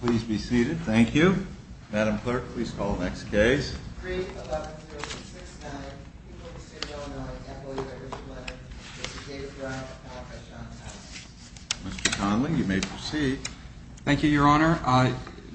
Please be seated. Thank you. Madam Clerk, please call the next case. Mr. Conley, you may proceed. Thank you, Your Honor.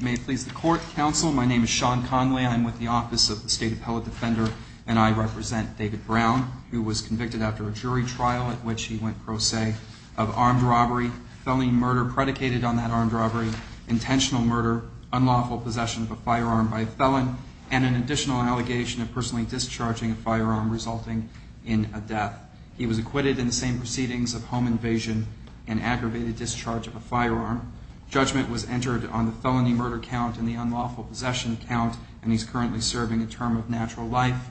May it please the Court, Counsel, my name is Sean Conley. I'm with the Office of the State Appellate Defender, and I represent David Brown, who was convicted after a jury trial in which he went pro se of armed robbery, felony murder predicated on that armed robbery, intentional murder, unlawful possession of a firearm by a felon, and an additional allegation of personally discharging a firearm resulting in a death. He was acquitted in the same proceedings of home invasion and aggravated discharge of a firearm. Judgment was entered on the felony murder count and the unlawful possession count, and he's currently serving a term of natural life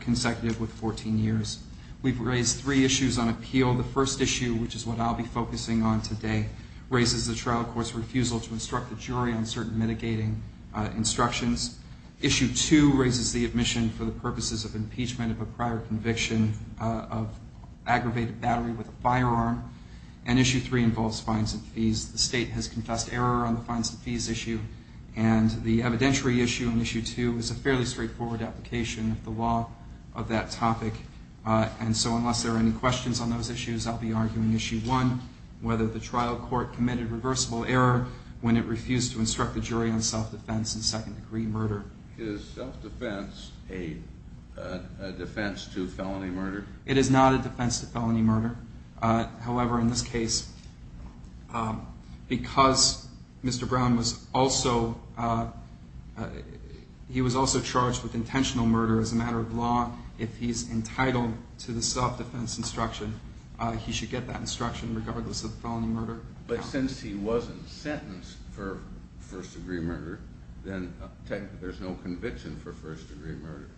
consecutive with 14 years. We've raised three issues on appeal. The first issue, which is what I'll be focusing on today, raises the trial court's refusal to instruct the jury on certain mitigating instructions. Issue two raises the admission for the purposes of impeachment of a prior conviction of aggravated battery with a firearm. And issue three involves fines and fees. The State has confessed error on the fines and fees issue, and the evidentiary issue on issue two is a fairly straightforward application of the law of that topic. And so unless there are any questions on those issues, I'll be arguing issue one, whether the trial court committed reversible error when it refused to instruct the jury on self-defense and second-degree murder. Is self-defense a defense to felony murder? It is not a defense to felony murder. However, in this case, because Mr. Brown was also charged with intentional murder as a matter of law, if he's entitled to the self-defense instruction, he should get that instruction regardless of felony murder. But since he wasn't sentenced for first-degree murder, then technically there's no conviction for first-degree murder,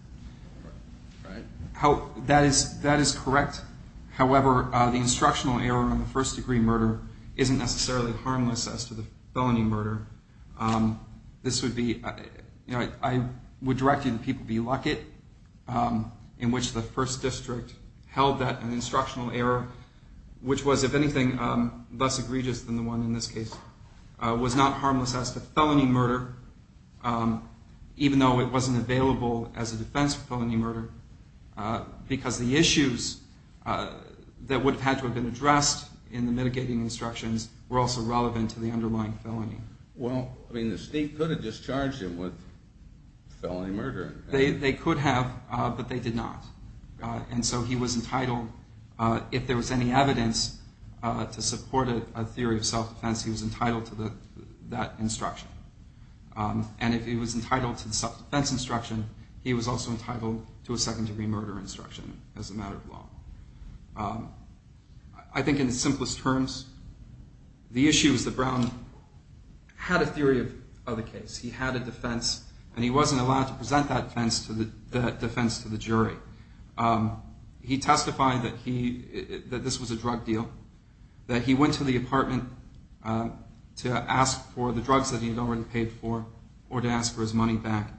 right? That is correct. However, the instructional error on the first-degree murder isn't necessarily harmless as to the felony murder. This would be, you know, I would direct you to People v. Luckett, in which the first district held that an instructional error, which was, if anything, less egregious than the one in this case, was not harmless as to felony murder, even though it wasn't available as a defense for felony murder, because the issues that would have had to have been addressed in the mitigating instructions were also relevant to the underlying felony. Well, I mean, the state could have discharged him with felony murder. They could have, but they did not. And so he was entitled, if there was any evidence to support a theory of self-defense, he was entitled to that instruction. And if he was entitled to the self-defense instruction, he was also entitled to a second-degree murder instruction as a matter of law. I think in the simplest terms, the issue is that Brown had a theory of the case. He had a defense, and he wasn't allowed to present that defense to the jury. He testified that this was a drug deal, that he went to the apartment to ask for the drugs that he had already paid for or to ask for his money back.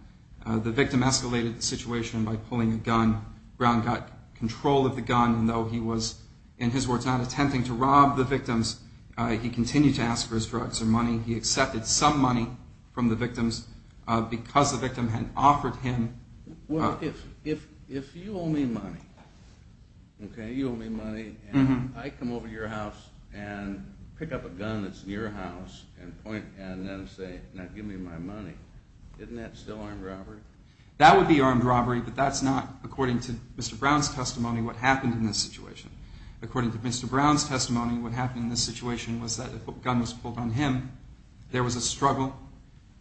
The victim escalated the situation by pulling a gun. Brown got control of the gun, and though he was, in his words, not attempting to rob the victims, he continued to ask for his drugs or money. He accepted some money from the victims because the victim had offered him. Well, if you owe me money, okay, you owe me money, and I come over to your house and pick up a gun that's in your house and then say, now give me my money, isn't that still armed robbery? That would be armed robbery, but that's not, according to Mr. Brown's testimony, what happened in this situation. According to Mr. Brown's testimony, what happened in this situation was that a gun was pulled on him, there was a struggle,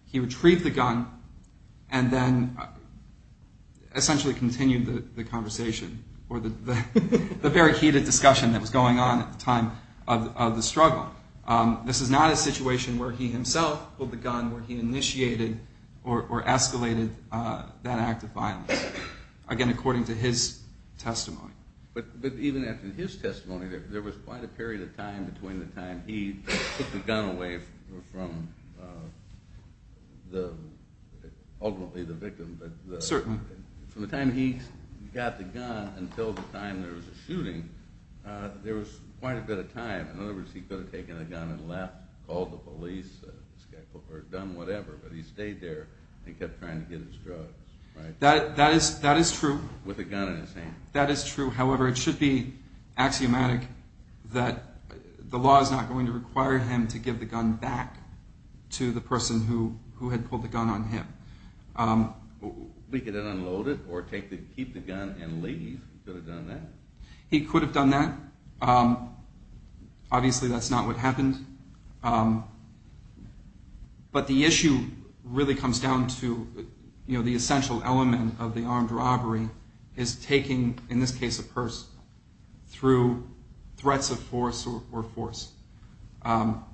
he retrieved the gun, and then essentially continued the conversation or the very heated discussion that was going on at the time of the struggle. This is not a situation where he himself pulled the gun, where he initiated or escalated that act of violence. Again, according to his testimony. But even after his testimony, there was quite a period of time between the time he took the gun away from ultimately the victim. Certainly. From the time he got the gun until the time there was a shooting, there was quite a bit of time. In other words, he could have taken the gun and left, called the police, or done whatever, but he stayed there and kept trying to get his drugs. That is true. With a gun in his hand. That is true. However, it should be axiomatic that the law is not going to require him to give the gun back to the person who had pulled the gun on him. He could have unloaded or keep the gun and leave. He could have done that. Obviously, that is not what happened. But the issue really comes down to the essential element of the armed robbery is taking, in this case, a purse, through threats of force or force. Now,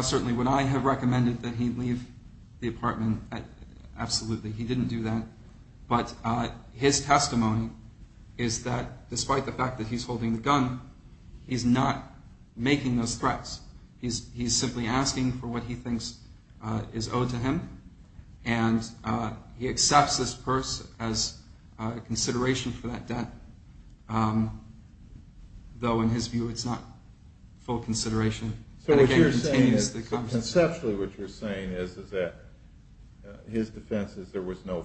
certainly, would I have recommended that he leave the apartment? Absolutely. He didn't do that. But his testimony is that, despite the fact that he's holding the gun, he's not making those threats. He's simply asking for what he thinks is owed to him, and he accepts this purse as a consideration for that debt, though in his view it's not full consideration. So what you're saying is, conceptually what you're saying is, is that his defense is there was no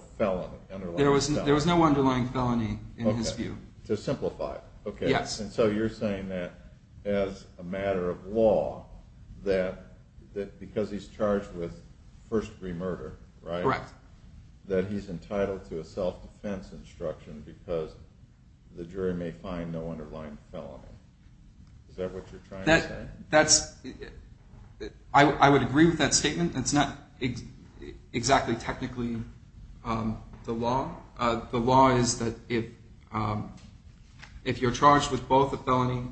underlying felony. There was no underlying felony in his view. To simplify it. Yes. So you're saying that, as a matter of law, that because he's charged with first-degree murder, right? Correct. That he's entitled to a self-defense instruction because the jury may find no underlying felony. Is that what you're trying to say? I would agree with that statement. It's not exactly technically the law. The law is that if you're charged with both a felony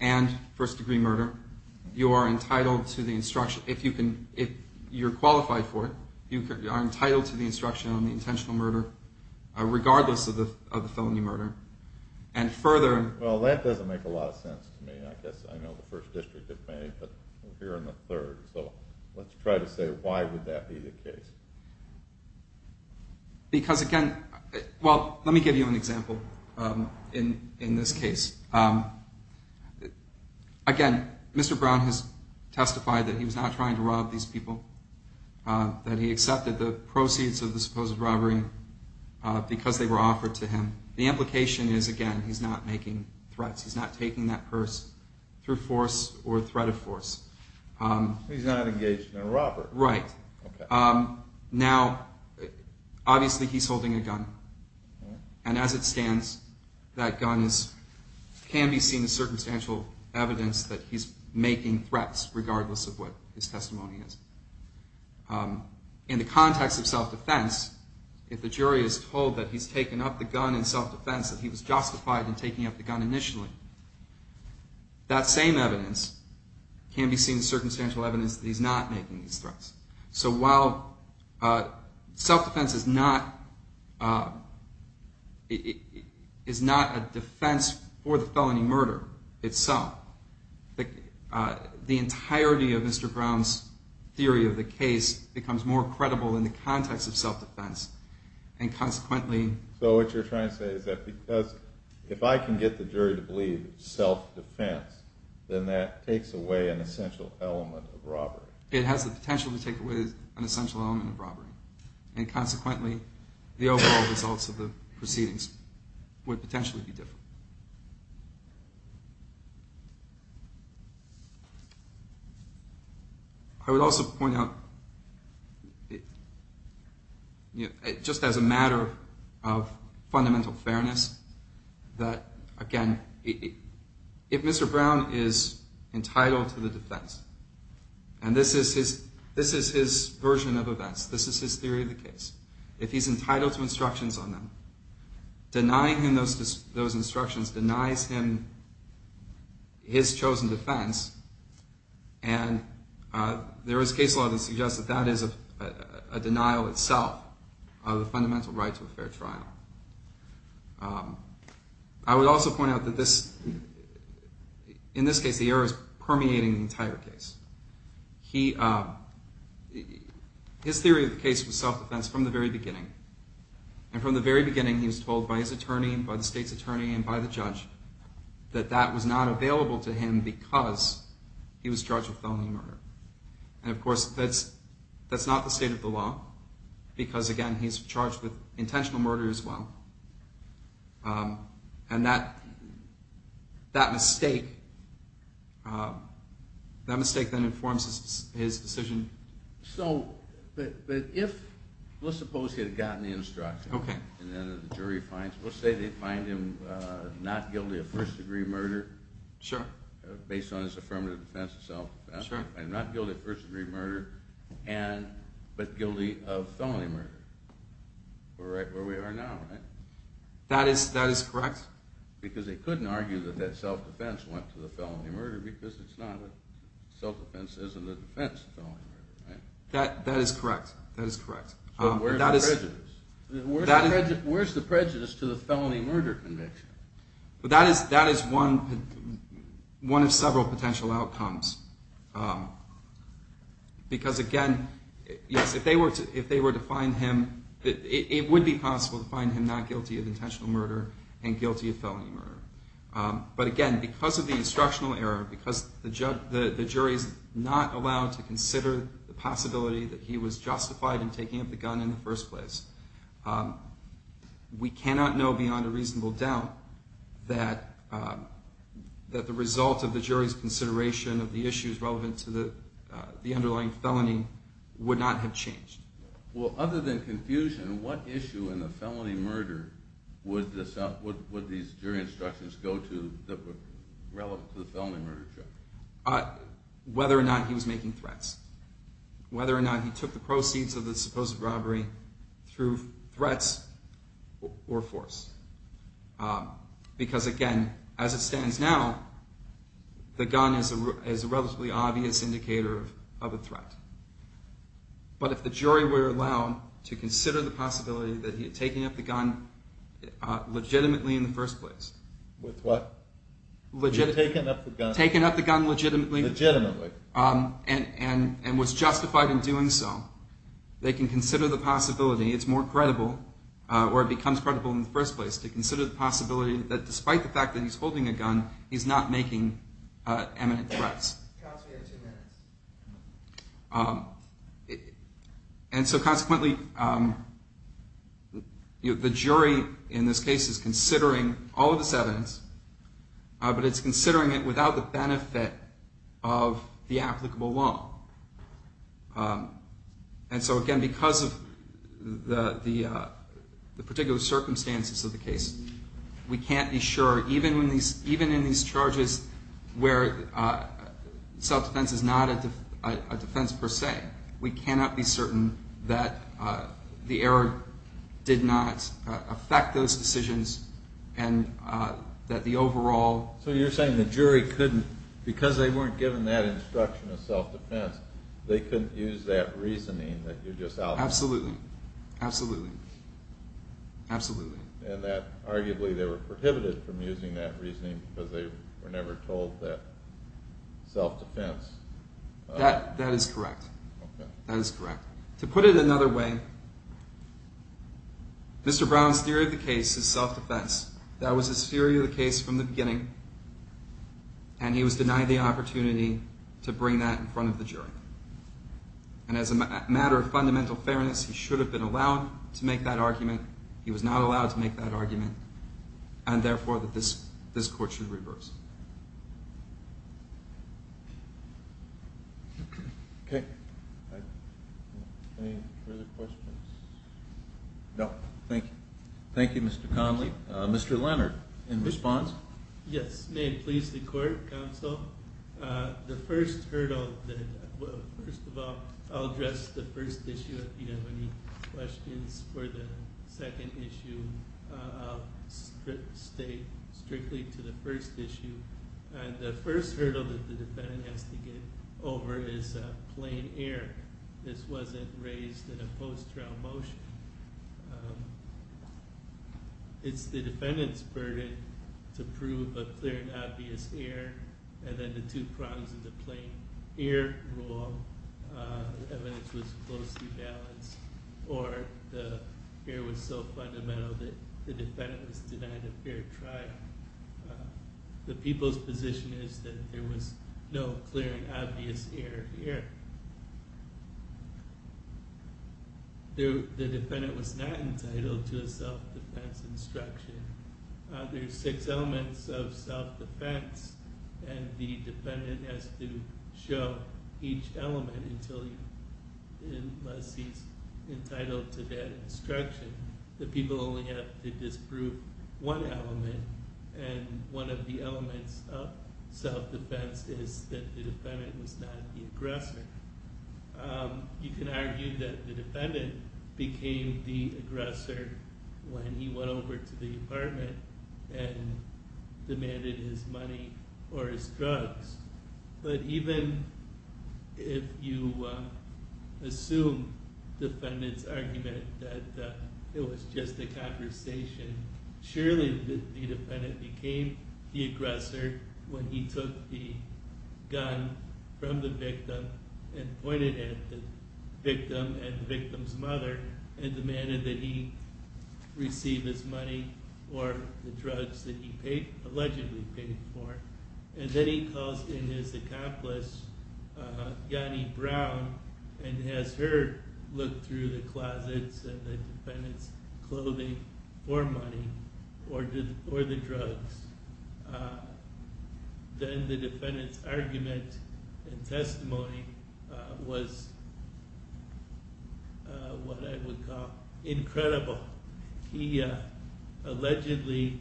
and first-degree murder, you are entitled to the instruction. If you're qualified for it, you are entitled to the instruction on the intentional murder, regardless of the felony murder. Well, that doesn't make a lot of sense to me. I guess I know the First District of Maine, but we're here in the third. So let's try to say why would that be the case. Because, again, well, let me give you an example in this case. Again, Mr. Brown has testified that he was not trying to rob these people, that he accepted the proceeds of the supposed robbery because they were offered to him. The implication is, again, he's not making threats. He's not taking that purse through force or threat of force. He's not engaged in a robbery. Right. Now, obviously he's holding a gun, and as it stands, that gun can be seen as circumstantial evidence that he's making threats, regardless of what his testimony is. In the context of self-defense, if the jury is told that he's taken up the gun in self-defense, that he was justified in taking up the gun initially, that same evidence can be seen as circumstantial evidence that he's not making these threats. So while self-defense is not a defense for the felony murder itself, the entirety of Mr. Brown's theory of the case becomes more credible in the context of self-defense, and consequently... So what you're trying to say is that because, if I can get the jury to believe self-defense, then that takes away an essential element of robbery. It has the potential to take away an essential element of robbery, and consequently, the overall results of the proceedings would potentially be different. I would also point out, just as a matter of fundamental fairness, that, again, if Mr. Brown is entitled to the defense, and this is his version of events, this is his theory of the case, if he's entitled to instructions on that, denying him those instructions, denies him his chosen defense, and there is case law that suggests that that is a denial itself of the fundamental right to a fair trial. I would also point out that, in this case, the error is permeating the entire case. His theory of the case was self-defense from the very beginning, and from the very beginning, he was told by his attorney, by the state's attorney, and by the judge, that that was not available to him because he was charged with felony murder. And, of course, that's not the state of the law, because, again, he's charged with intentional murder as well. And that mistake then informs his decision. So, but if, let's suppose he had gotten the instructions, and then the jury finds him, let's say they find him not guilty of first-degree murder, based on his affirmative defense of self-defense, and not guilty of first-degree murder, but guilty of felony murder. We're right where we are now, right? That is correct. Because they couldn't argue that that self-defense went to the felony murder because self-defense isn't a defense of felony murder, right? That is correct. That is correct. Where's the prejudice to the felony murder conviction? That is one of several potential outcomes. Because, again, yes, if they were to find him, it would be possible to find him not guilty of intentional murder and guilty of felony murder. But, again, because of the instructional error, because the jury's not allowed to consider the possibility that he was justified in taking up the gun in the first place, we cannot know beyond a reasonable doubt that the result of the jury's consideration of the issues relevant to the underlying felony would not have changed. Well, other than confusion, what issue in the felony murder would these jury instructions go to that were relevant to the felony murder charge? Whether or not he was making threats. Whether or not he took the proceeds of the supposed robbery through threats or force. Because, again, as it stands now, the gun is a relatively obvious indicator of a threat. But if the jury were allowed to consider the possibility that he had taken up the gun legitimately in the first place. With what? He had taken up the gun. Taken up the gun legitimately. Legitimately. And was justified in doing so. They can consider the possibility. It's more credible, or it becomes credible in the first place, to consider the possibility that, despite the fact that he's holding a gun, he's not making eminent threats. Counsel, you have two minutes. And so, consequently, the jury in this case is considering all of this evidence, but it's considering it without the benefit of the applicable law. And so, again, because of the particular circumstances of the case, we can't be sure, even in these charges where self-defense is not a defense per se, we cannot be certain that the error did not affect those decisions and that the overall... So you're saying the jury couldn't, because they weren't given that instruction of self-defense, they couldn't use that reasoning that you just outlined? Absolutely. Absolutely. Absolutely. And that, arguably, they were prohibited from using that reasoning because they were never told that self-defense... That is correct. That is correct. To put it another way, Mr. Brown's theory of the case is self-defense. That was his theory of the case from the beginning, and he was denied the opportunity to bring that in front of the jury. And as a matter of fundamental fairness, he should have been allowed to make that argument. He was not allowed to make that argument, and, therefore, this court should reverse. Okay. Any further questions? No. Thank you. Thank you, Mr. Conley. Mr. Leonard, in response? Yes. May it please the Court, Counsel, the first hurdle that... First of all, I'll address the first issue. If you have any questions for the second issue, I'll state strictly to the first issue. The first hurdle that the defendant has to get over is plain air. This wasn't raised in a post-trial motion. It's the defendant's burden to prove a clear and obvious air, and then the two prongs of the plain air rule, the evidence was closely balanced, or the air was so fundamental that the defendant was denied a fair trial. The people's position is that there was no clear and obvious air here. The defendant was not entitled to a self-defense instruction. There are six elements of self-defense, and the defendant has to show each element unless he's entitled to that instruction. The people only have to disprove one element, and one of the elements of self-defense is that the defendant was not the aggressor. You can argue that the defendant became the aggressor when he went over to the apartment and demanded his money or his drugs, but even if you assume the defendant's argument that it was just a conversation, surely the defendant became the aggressor when he took the gun from the victim and pointed at the victim and the victim's mother and demanded that he receive his money or the drugs that he allegedly paid for. And then he calls in his accomplice, Yanni Brown, and has her look through the closets and the defendant's clothing for money or the drugs. Then the defendant's argument and testimony was what I would call incredible. He allegedly...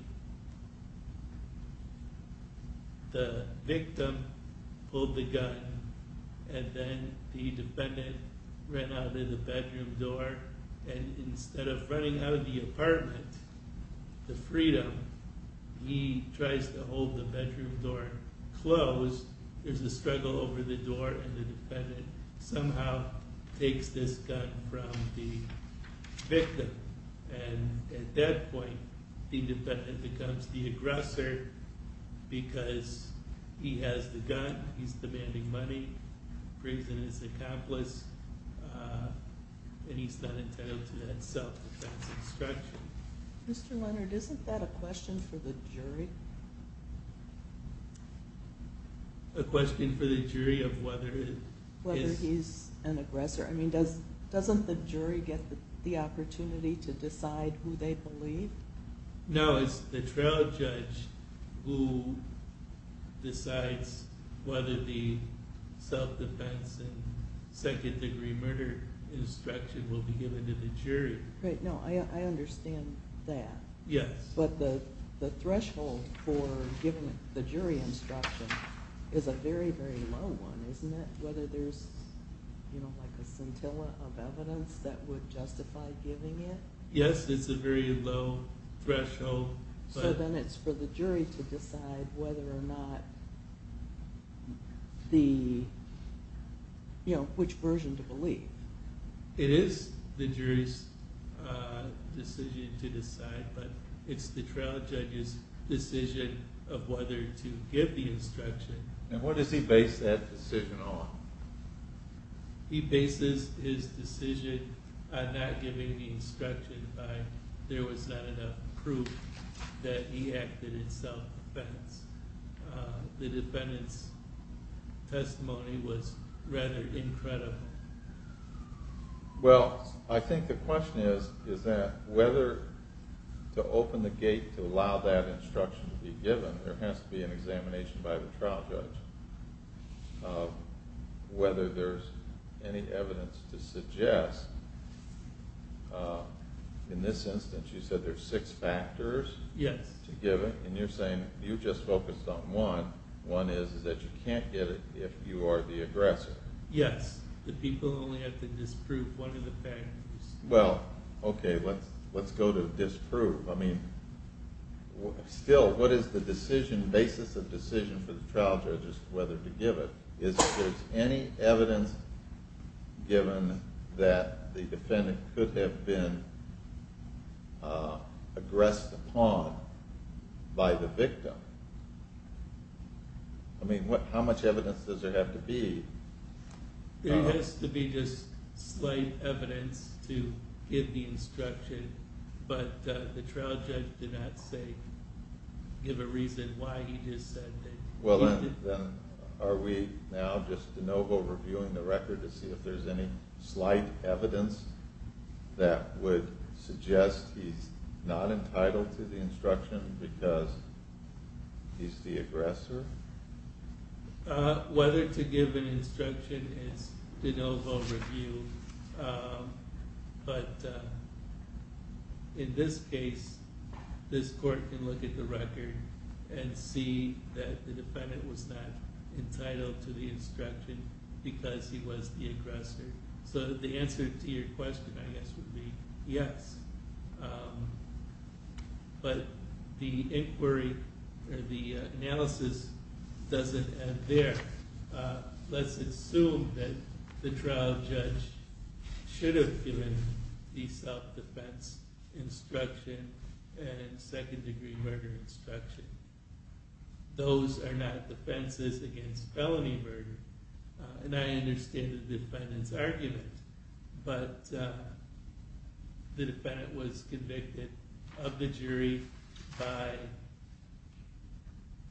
The defendant ran out of the bedroom door, and instead of running out of the apartment to freedom, he tries to hold the bedroom door closed. There's a struggle over the door, and the defendant somehow takes this gun from the victim. And at that point, the defendant becomes the aggressor because he has the gun, he's demanding money, brings in his accomplice, and he's not entitled to that self-defense instruction. Mr. Leonard, isn't that a question for the jury? A question for the jury of whether it is... Whether he's an aggressor. I mean, doesn't the jury get the opportunity to decide who they believe? No, it's the trial judge who decides whether the self-defense and second-degree murder instruction will be given to the jury. Right, no, I understand that. Yes. But the threshold for giving the jury instruction is a very, very low one, isn't it? Whether there's a scintilla of evidence that would justify giving it? Yes, it's a very low threshold. So then it's for the jury to decide whether or not the... you know, which version to believe. It is the jury's decision to decide, but it's the trial judge's decision of whether to give the instruction. And what does he base that decision on? He bases his decision on not giving the instruction by there was not enough proof that he acted in self-defense. The defendant's testimony was rather incredible. Well, I think the question is that whether to open the gate to allow that instruction to be given, there has to be an examination by the trial judge of whether there's any evidence to suggest in this instance you said there's six factors to give it? Yes. And you're saying you just focused on one. One is that you can't get it if you are the aggressor. Yes, the people only have to disprove one of the factors. Well, okay, let's go to disprove. I mean, still, what is the decision, basis of decision for the trial judge as to whether to give it? Is there any evidence given that the defendant could have been aggressed upon by the victim? I mean, how much evidence does there have to be? There has to be just slight evidence to give the instruction, but the trial judge did not, say, give a reason why he just said that. Well, then, are we now just de novo reviewing the record to see if there's any slight evidence that would suggest he's not entitled to the instruction because he's the aggressor? Whether to give an instruction is de novo reviewed, but in this case, this court can look at the record and see that the defendant was not entitled to the instruction because he was the aggressor. So the answer to your question, I guess, would be yes. But the inquiry, the analysis doesn't end there. Let's assume that the trial judge should have given the self-defense instruction and second-degree murder instruction. Those are not defenses against felony murder, and I understand the defendant's argument, but the defendant was convicted of the jury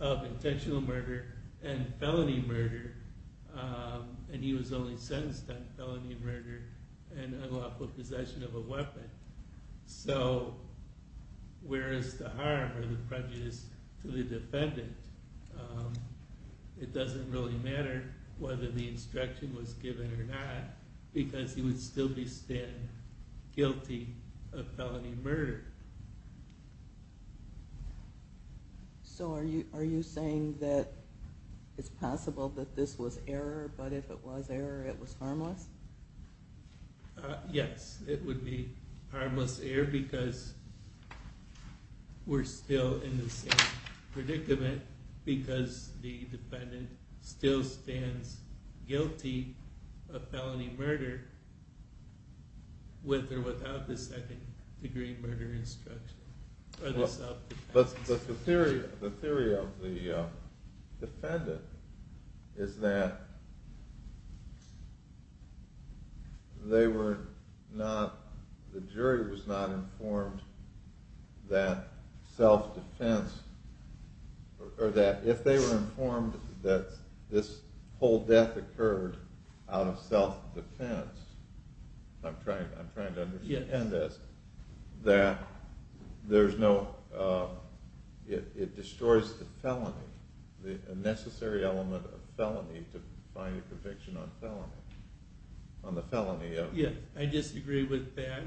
of intentional murder and felony murder, and he was only sentenced on felony murder and unlawful possession of a weapon. So where is the harm or the prejudice to the defendant? It doesn't really matter whether the instruction was given or not because he would still be standing guilty of felony murder. So are you saying that it's possible that this was error, but if it was error, it was harmless? Yes, it would be harmless error because we're still in the same predicament because the defendant still stands guilty of felony murder with or without the second-degree murder instruction or the self-defense. But the theory of the defendant is that they were not, the jury was not informed that self-defense, or that if they were informed that this whole death occurred out of self-defense, I'm trying to understand this, that there's no, it destroys the felony, the necessary element of felony to find a conviction on felony, on the felony of... Yes, I disagree with that.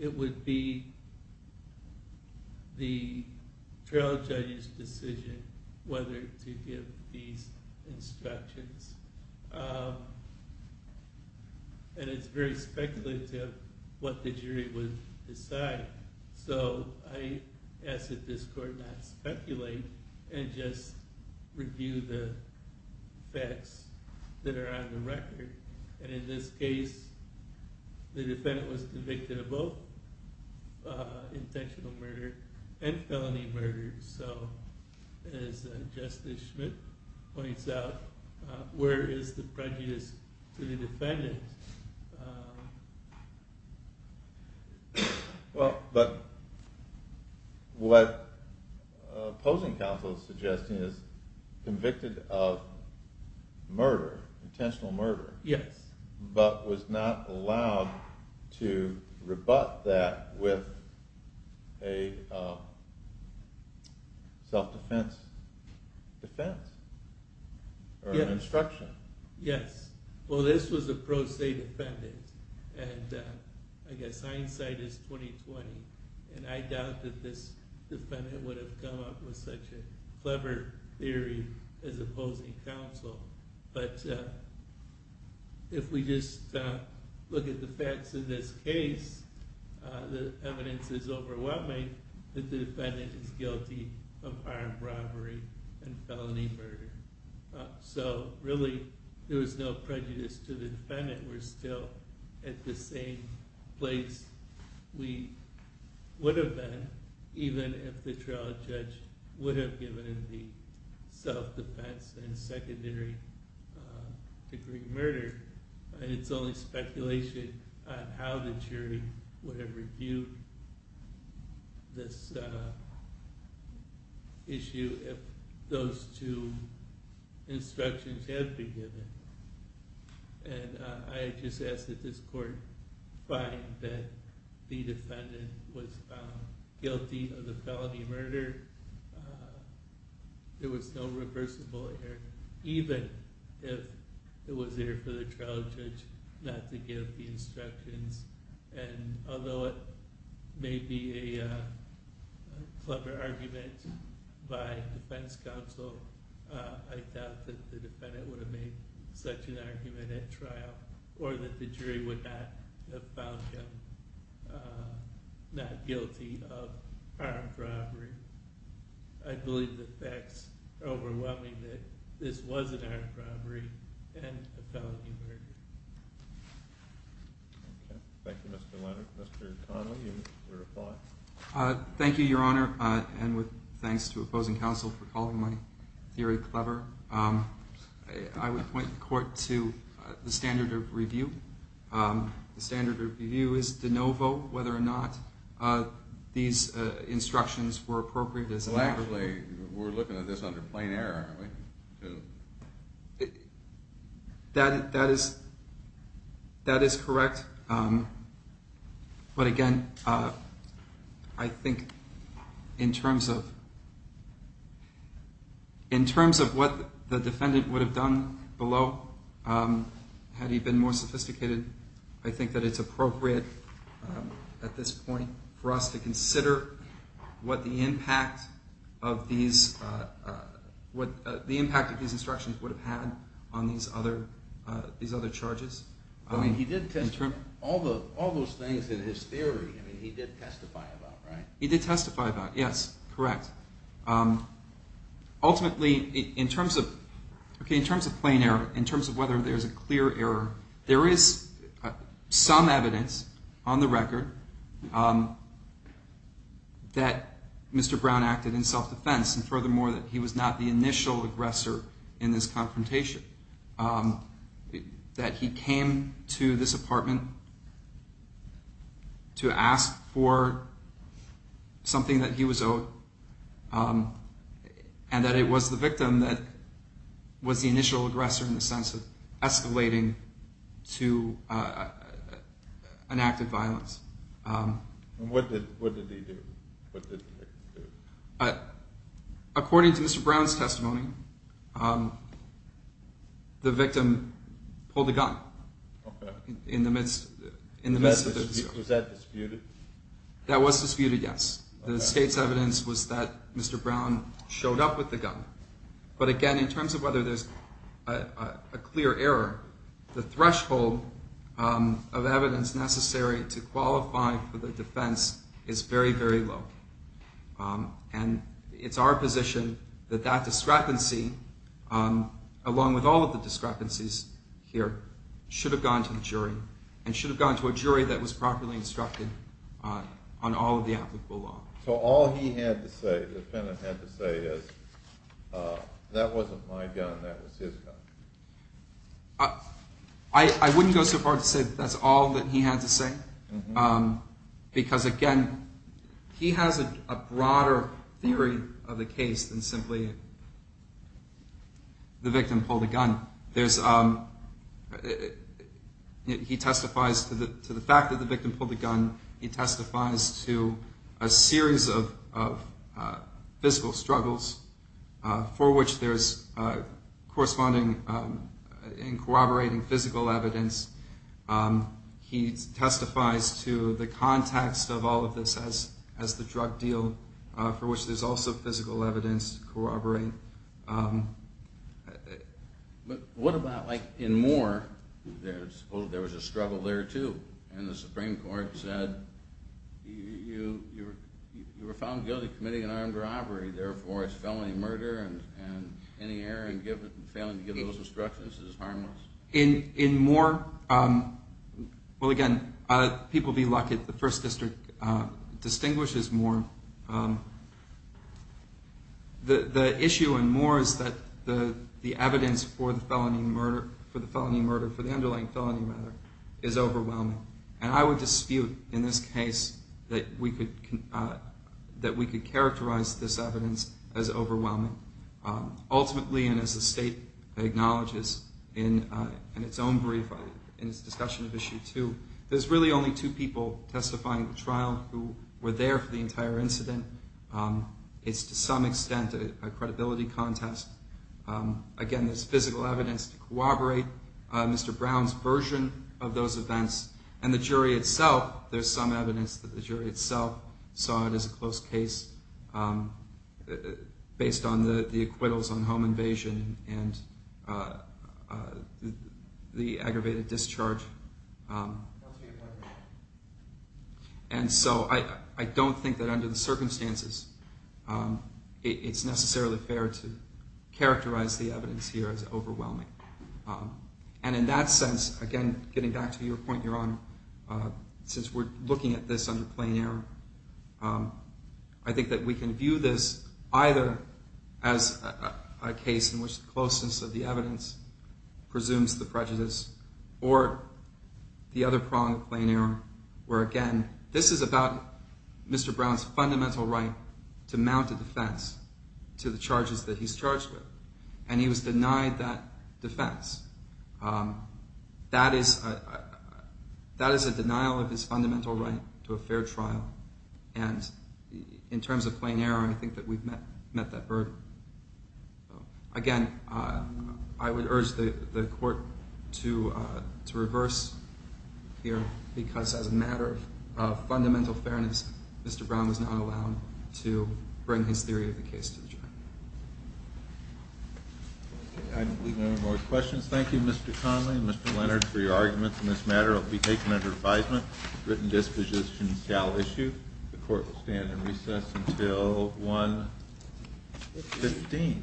It would be the trial judge's decision whether to give these instructions, and it's very speculative what the jury would decide. So I ask that this court not speculate and just review the facts that are on the record. And in this case, the defendant was convicted of both intentional murder and felony murder. So as Justice Schmidt points out, where is the prejudice to the defendant? Well, but what opposing counsel is suggesting is convicted of murder, intentional murder. Yes. But was not allowed to rebut that with a self-defense defense or an instruction. Yes. Well, this was a pro se defendant, and I guess hindsight is 20-20, and I doubt that this defendant would have come up with such a clever theory as opposing counsel. But if we just look at the facts in this case, the evidence is overwhelming that the defendant is guilty of armed robbery and felony murder. So really, there was no prejudice to the defendant. We're still at the same place we would have been even if the trial judge would have given him the self-defense and secondary degree murder. And it's only speculation on how the jury would have reviewed this issue if those two instructions had been given. And I just ask that this court find that the defendant was found guilty of the felony murder. There was no reversible error, even if it was there for the trial judge not to give the instructions. And although it may be a clever argument by defense counsel, or that the jury would not have found him not guilty of armed robbery, I believe the facts are overwhelming that this was an armed robbery and a felony murder. Thank you, Mr. Leonard. Mr. Connell, your reply. Thank you, Your Honor, and with thanks to opposing counsel for calling my theory clever. I would point the court to the standard of review. The standard of review is de novo whether or not these instructions were appropriate. Well, actually, we're looking at this under plain error, aren't we? That is correct. But again, I think in terms of what the defendant would have done below had he been more sophisticated, I think that it's appropriate at this point for us to consider what the impact of these instructions would have had on these other charges. But he did testify, all those things in his theory, he did testify about, right? He did testify about, yes, correct. Ultimately, in terms of plain error, in terms of whether there's a clear error, there is some evidence on the record that Mr. Brown acted in self-defense, and furthermore that he was not the initial aggressor in this confrontation. That he came to this apartment to ask for something that he was owed, and that it was the victim that was the initial aggressor in the sense of escalating to an act of violence. And what did he do? According to Mr. Brown's testimony, the victim pulled the gun in the midst of the dispute. Was that disputed? That was disputed, yes. The state's evidence was that Mr. Brown showed up with the gun. But again, in terms of whether there's a clear error, the threshold of evidence necessary to qualify for the defense is very, very low. And it's our position that that discrepancy, along with all of the discrepancies here, should have gone to the jury, and should have gone to a jury that was properly instructed on all of the applicable law. So all he had to say, the defendant had to say, is that wasn't my gun, that was his gun? I wouldn't go so far to say that's all that he had to say, because again, he has a broader theory of the case than simply the victim pulled the gun. He testifies to the fact that the victim pulled the gun. He testifies to a series of physical struggles for which there's corresponding and corroborating physical evidence. He testifies to the context of all of this as the drug deal for which there's also physical evidence to corroborate. But what about, like, in Moore, there was a struggle there, too, and the Supreme Court said, you were found guilty of committing an armed robbery, therefore it's felony murder, and any error in failing to give those instructions is harmless. In Moore, well, again, people be lucky, the First District distinguishes Moore. The issue in Moore is that the evidence for the felony murder, for the underlying felony murder, is overwhelming, and I would dispute in this case that we could characterize this evidence as overwhelming. Ultimately, and as the State acknowledges in its own brief in its discussion of Issue 2, there's really only two people testifying at the trial who were there for the entire incident. It's, to some extent, a credibility contest. Again, there's physical evidence to corroborate Mr. Brown's version of those events, and the jury itself, there's some evidence that the jury itself saw it as a close case based on the acquittals on home invasion and the aggravated discharge. And so I don't think that under the circumstances it's necessarily fair to characterize the evidence here as overwhelming. And in that sense, again, getting back to your point, Your Honor, since we're looking at this under plain error, I think that we can view this either as a case in which the closeness of the evidence presumes the prejudice or the other prong of plain error where, again, this is about Mr. Brown's fundamental right to mount a defense to the charges that he's charged with, and he was denied that defense. That is a denial of his fundamental right to a fair trial, and in terms of plain error, I think that we've met that hurdle. Again, I would urge the Court to reverse here because as a matter of fundamental fairness, Mr. Brown was not allowed to bring his theory of the case to the jury. I believe there are no more questions. Thank you, Mr. Connolly and Mr. Leonard, for your arguments in this matter. We take them under advisement. Written disposition shall issue. The Court will stand in recess until 1.15.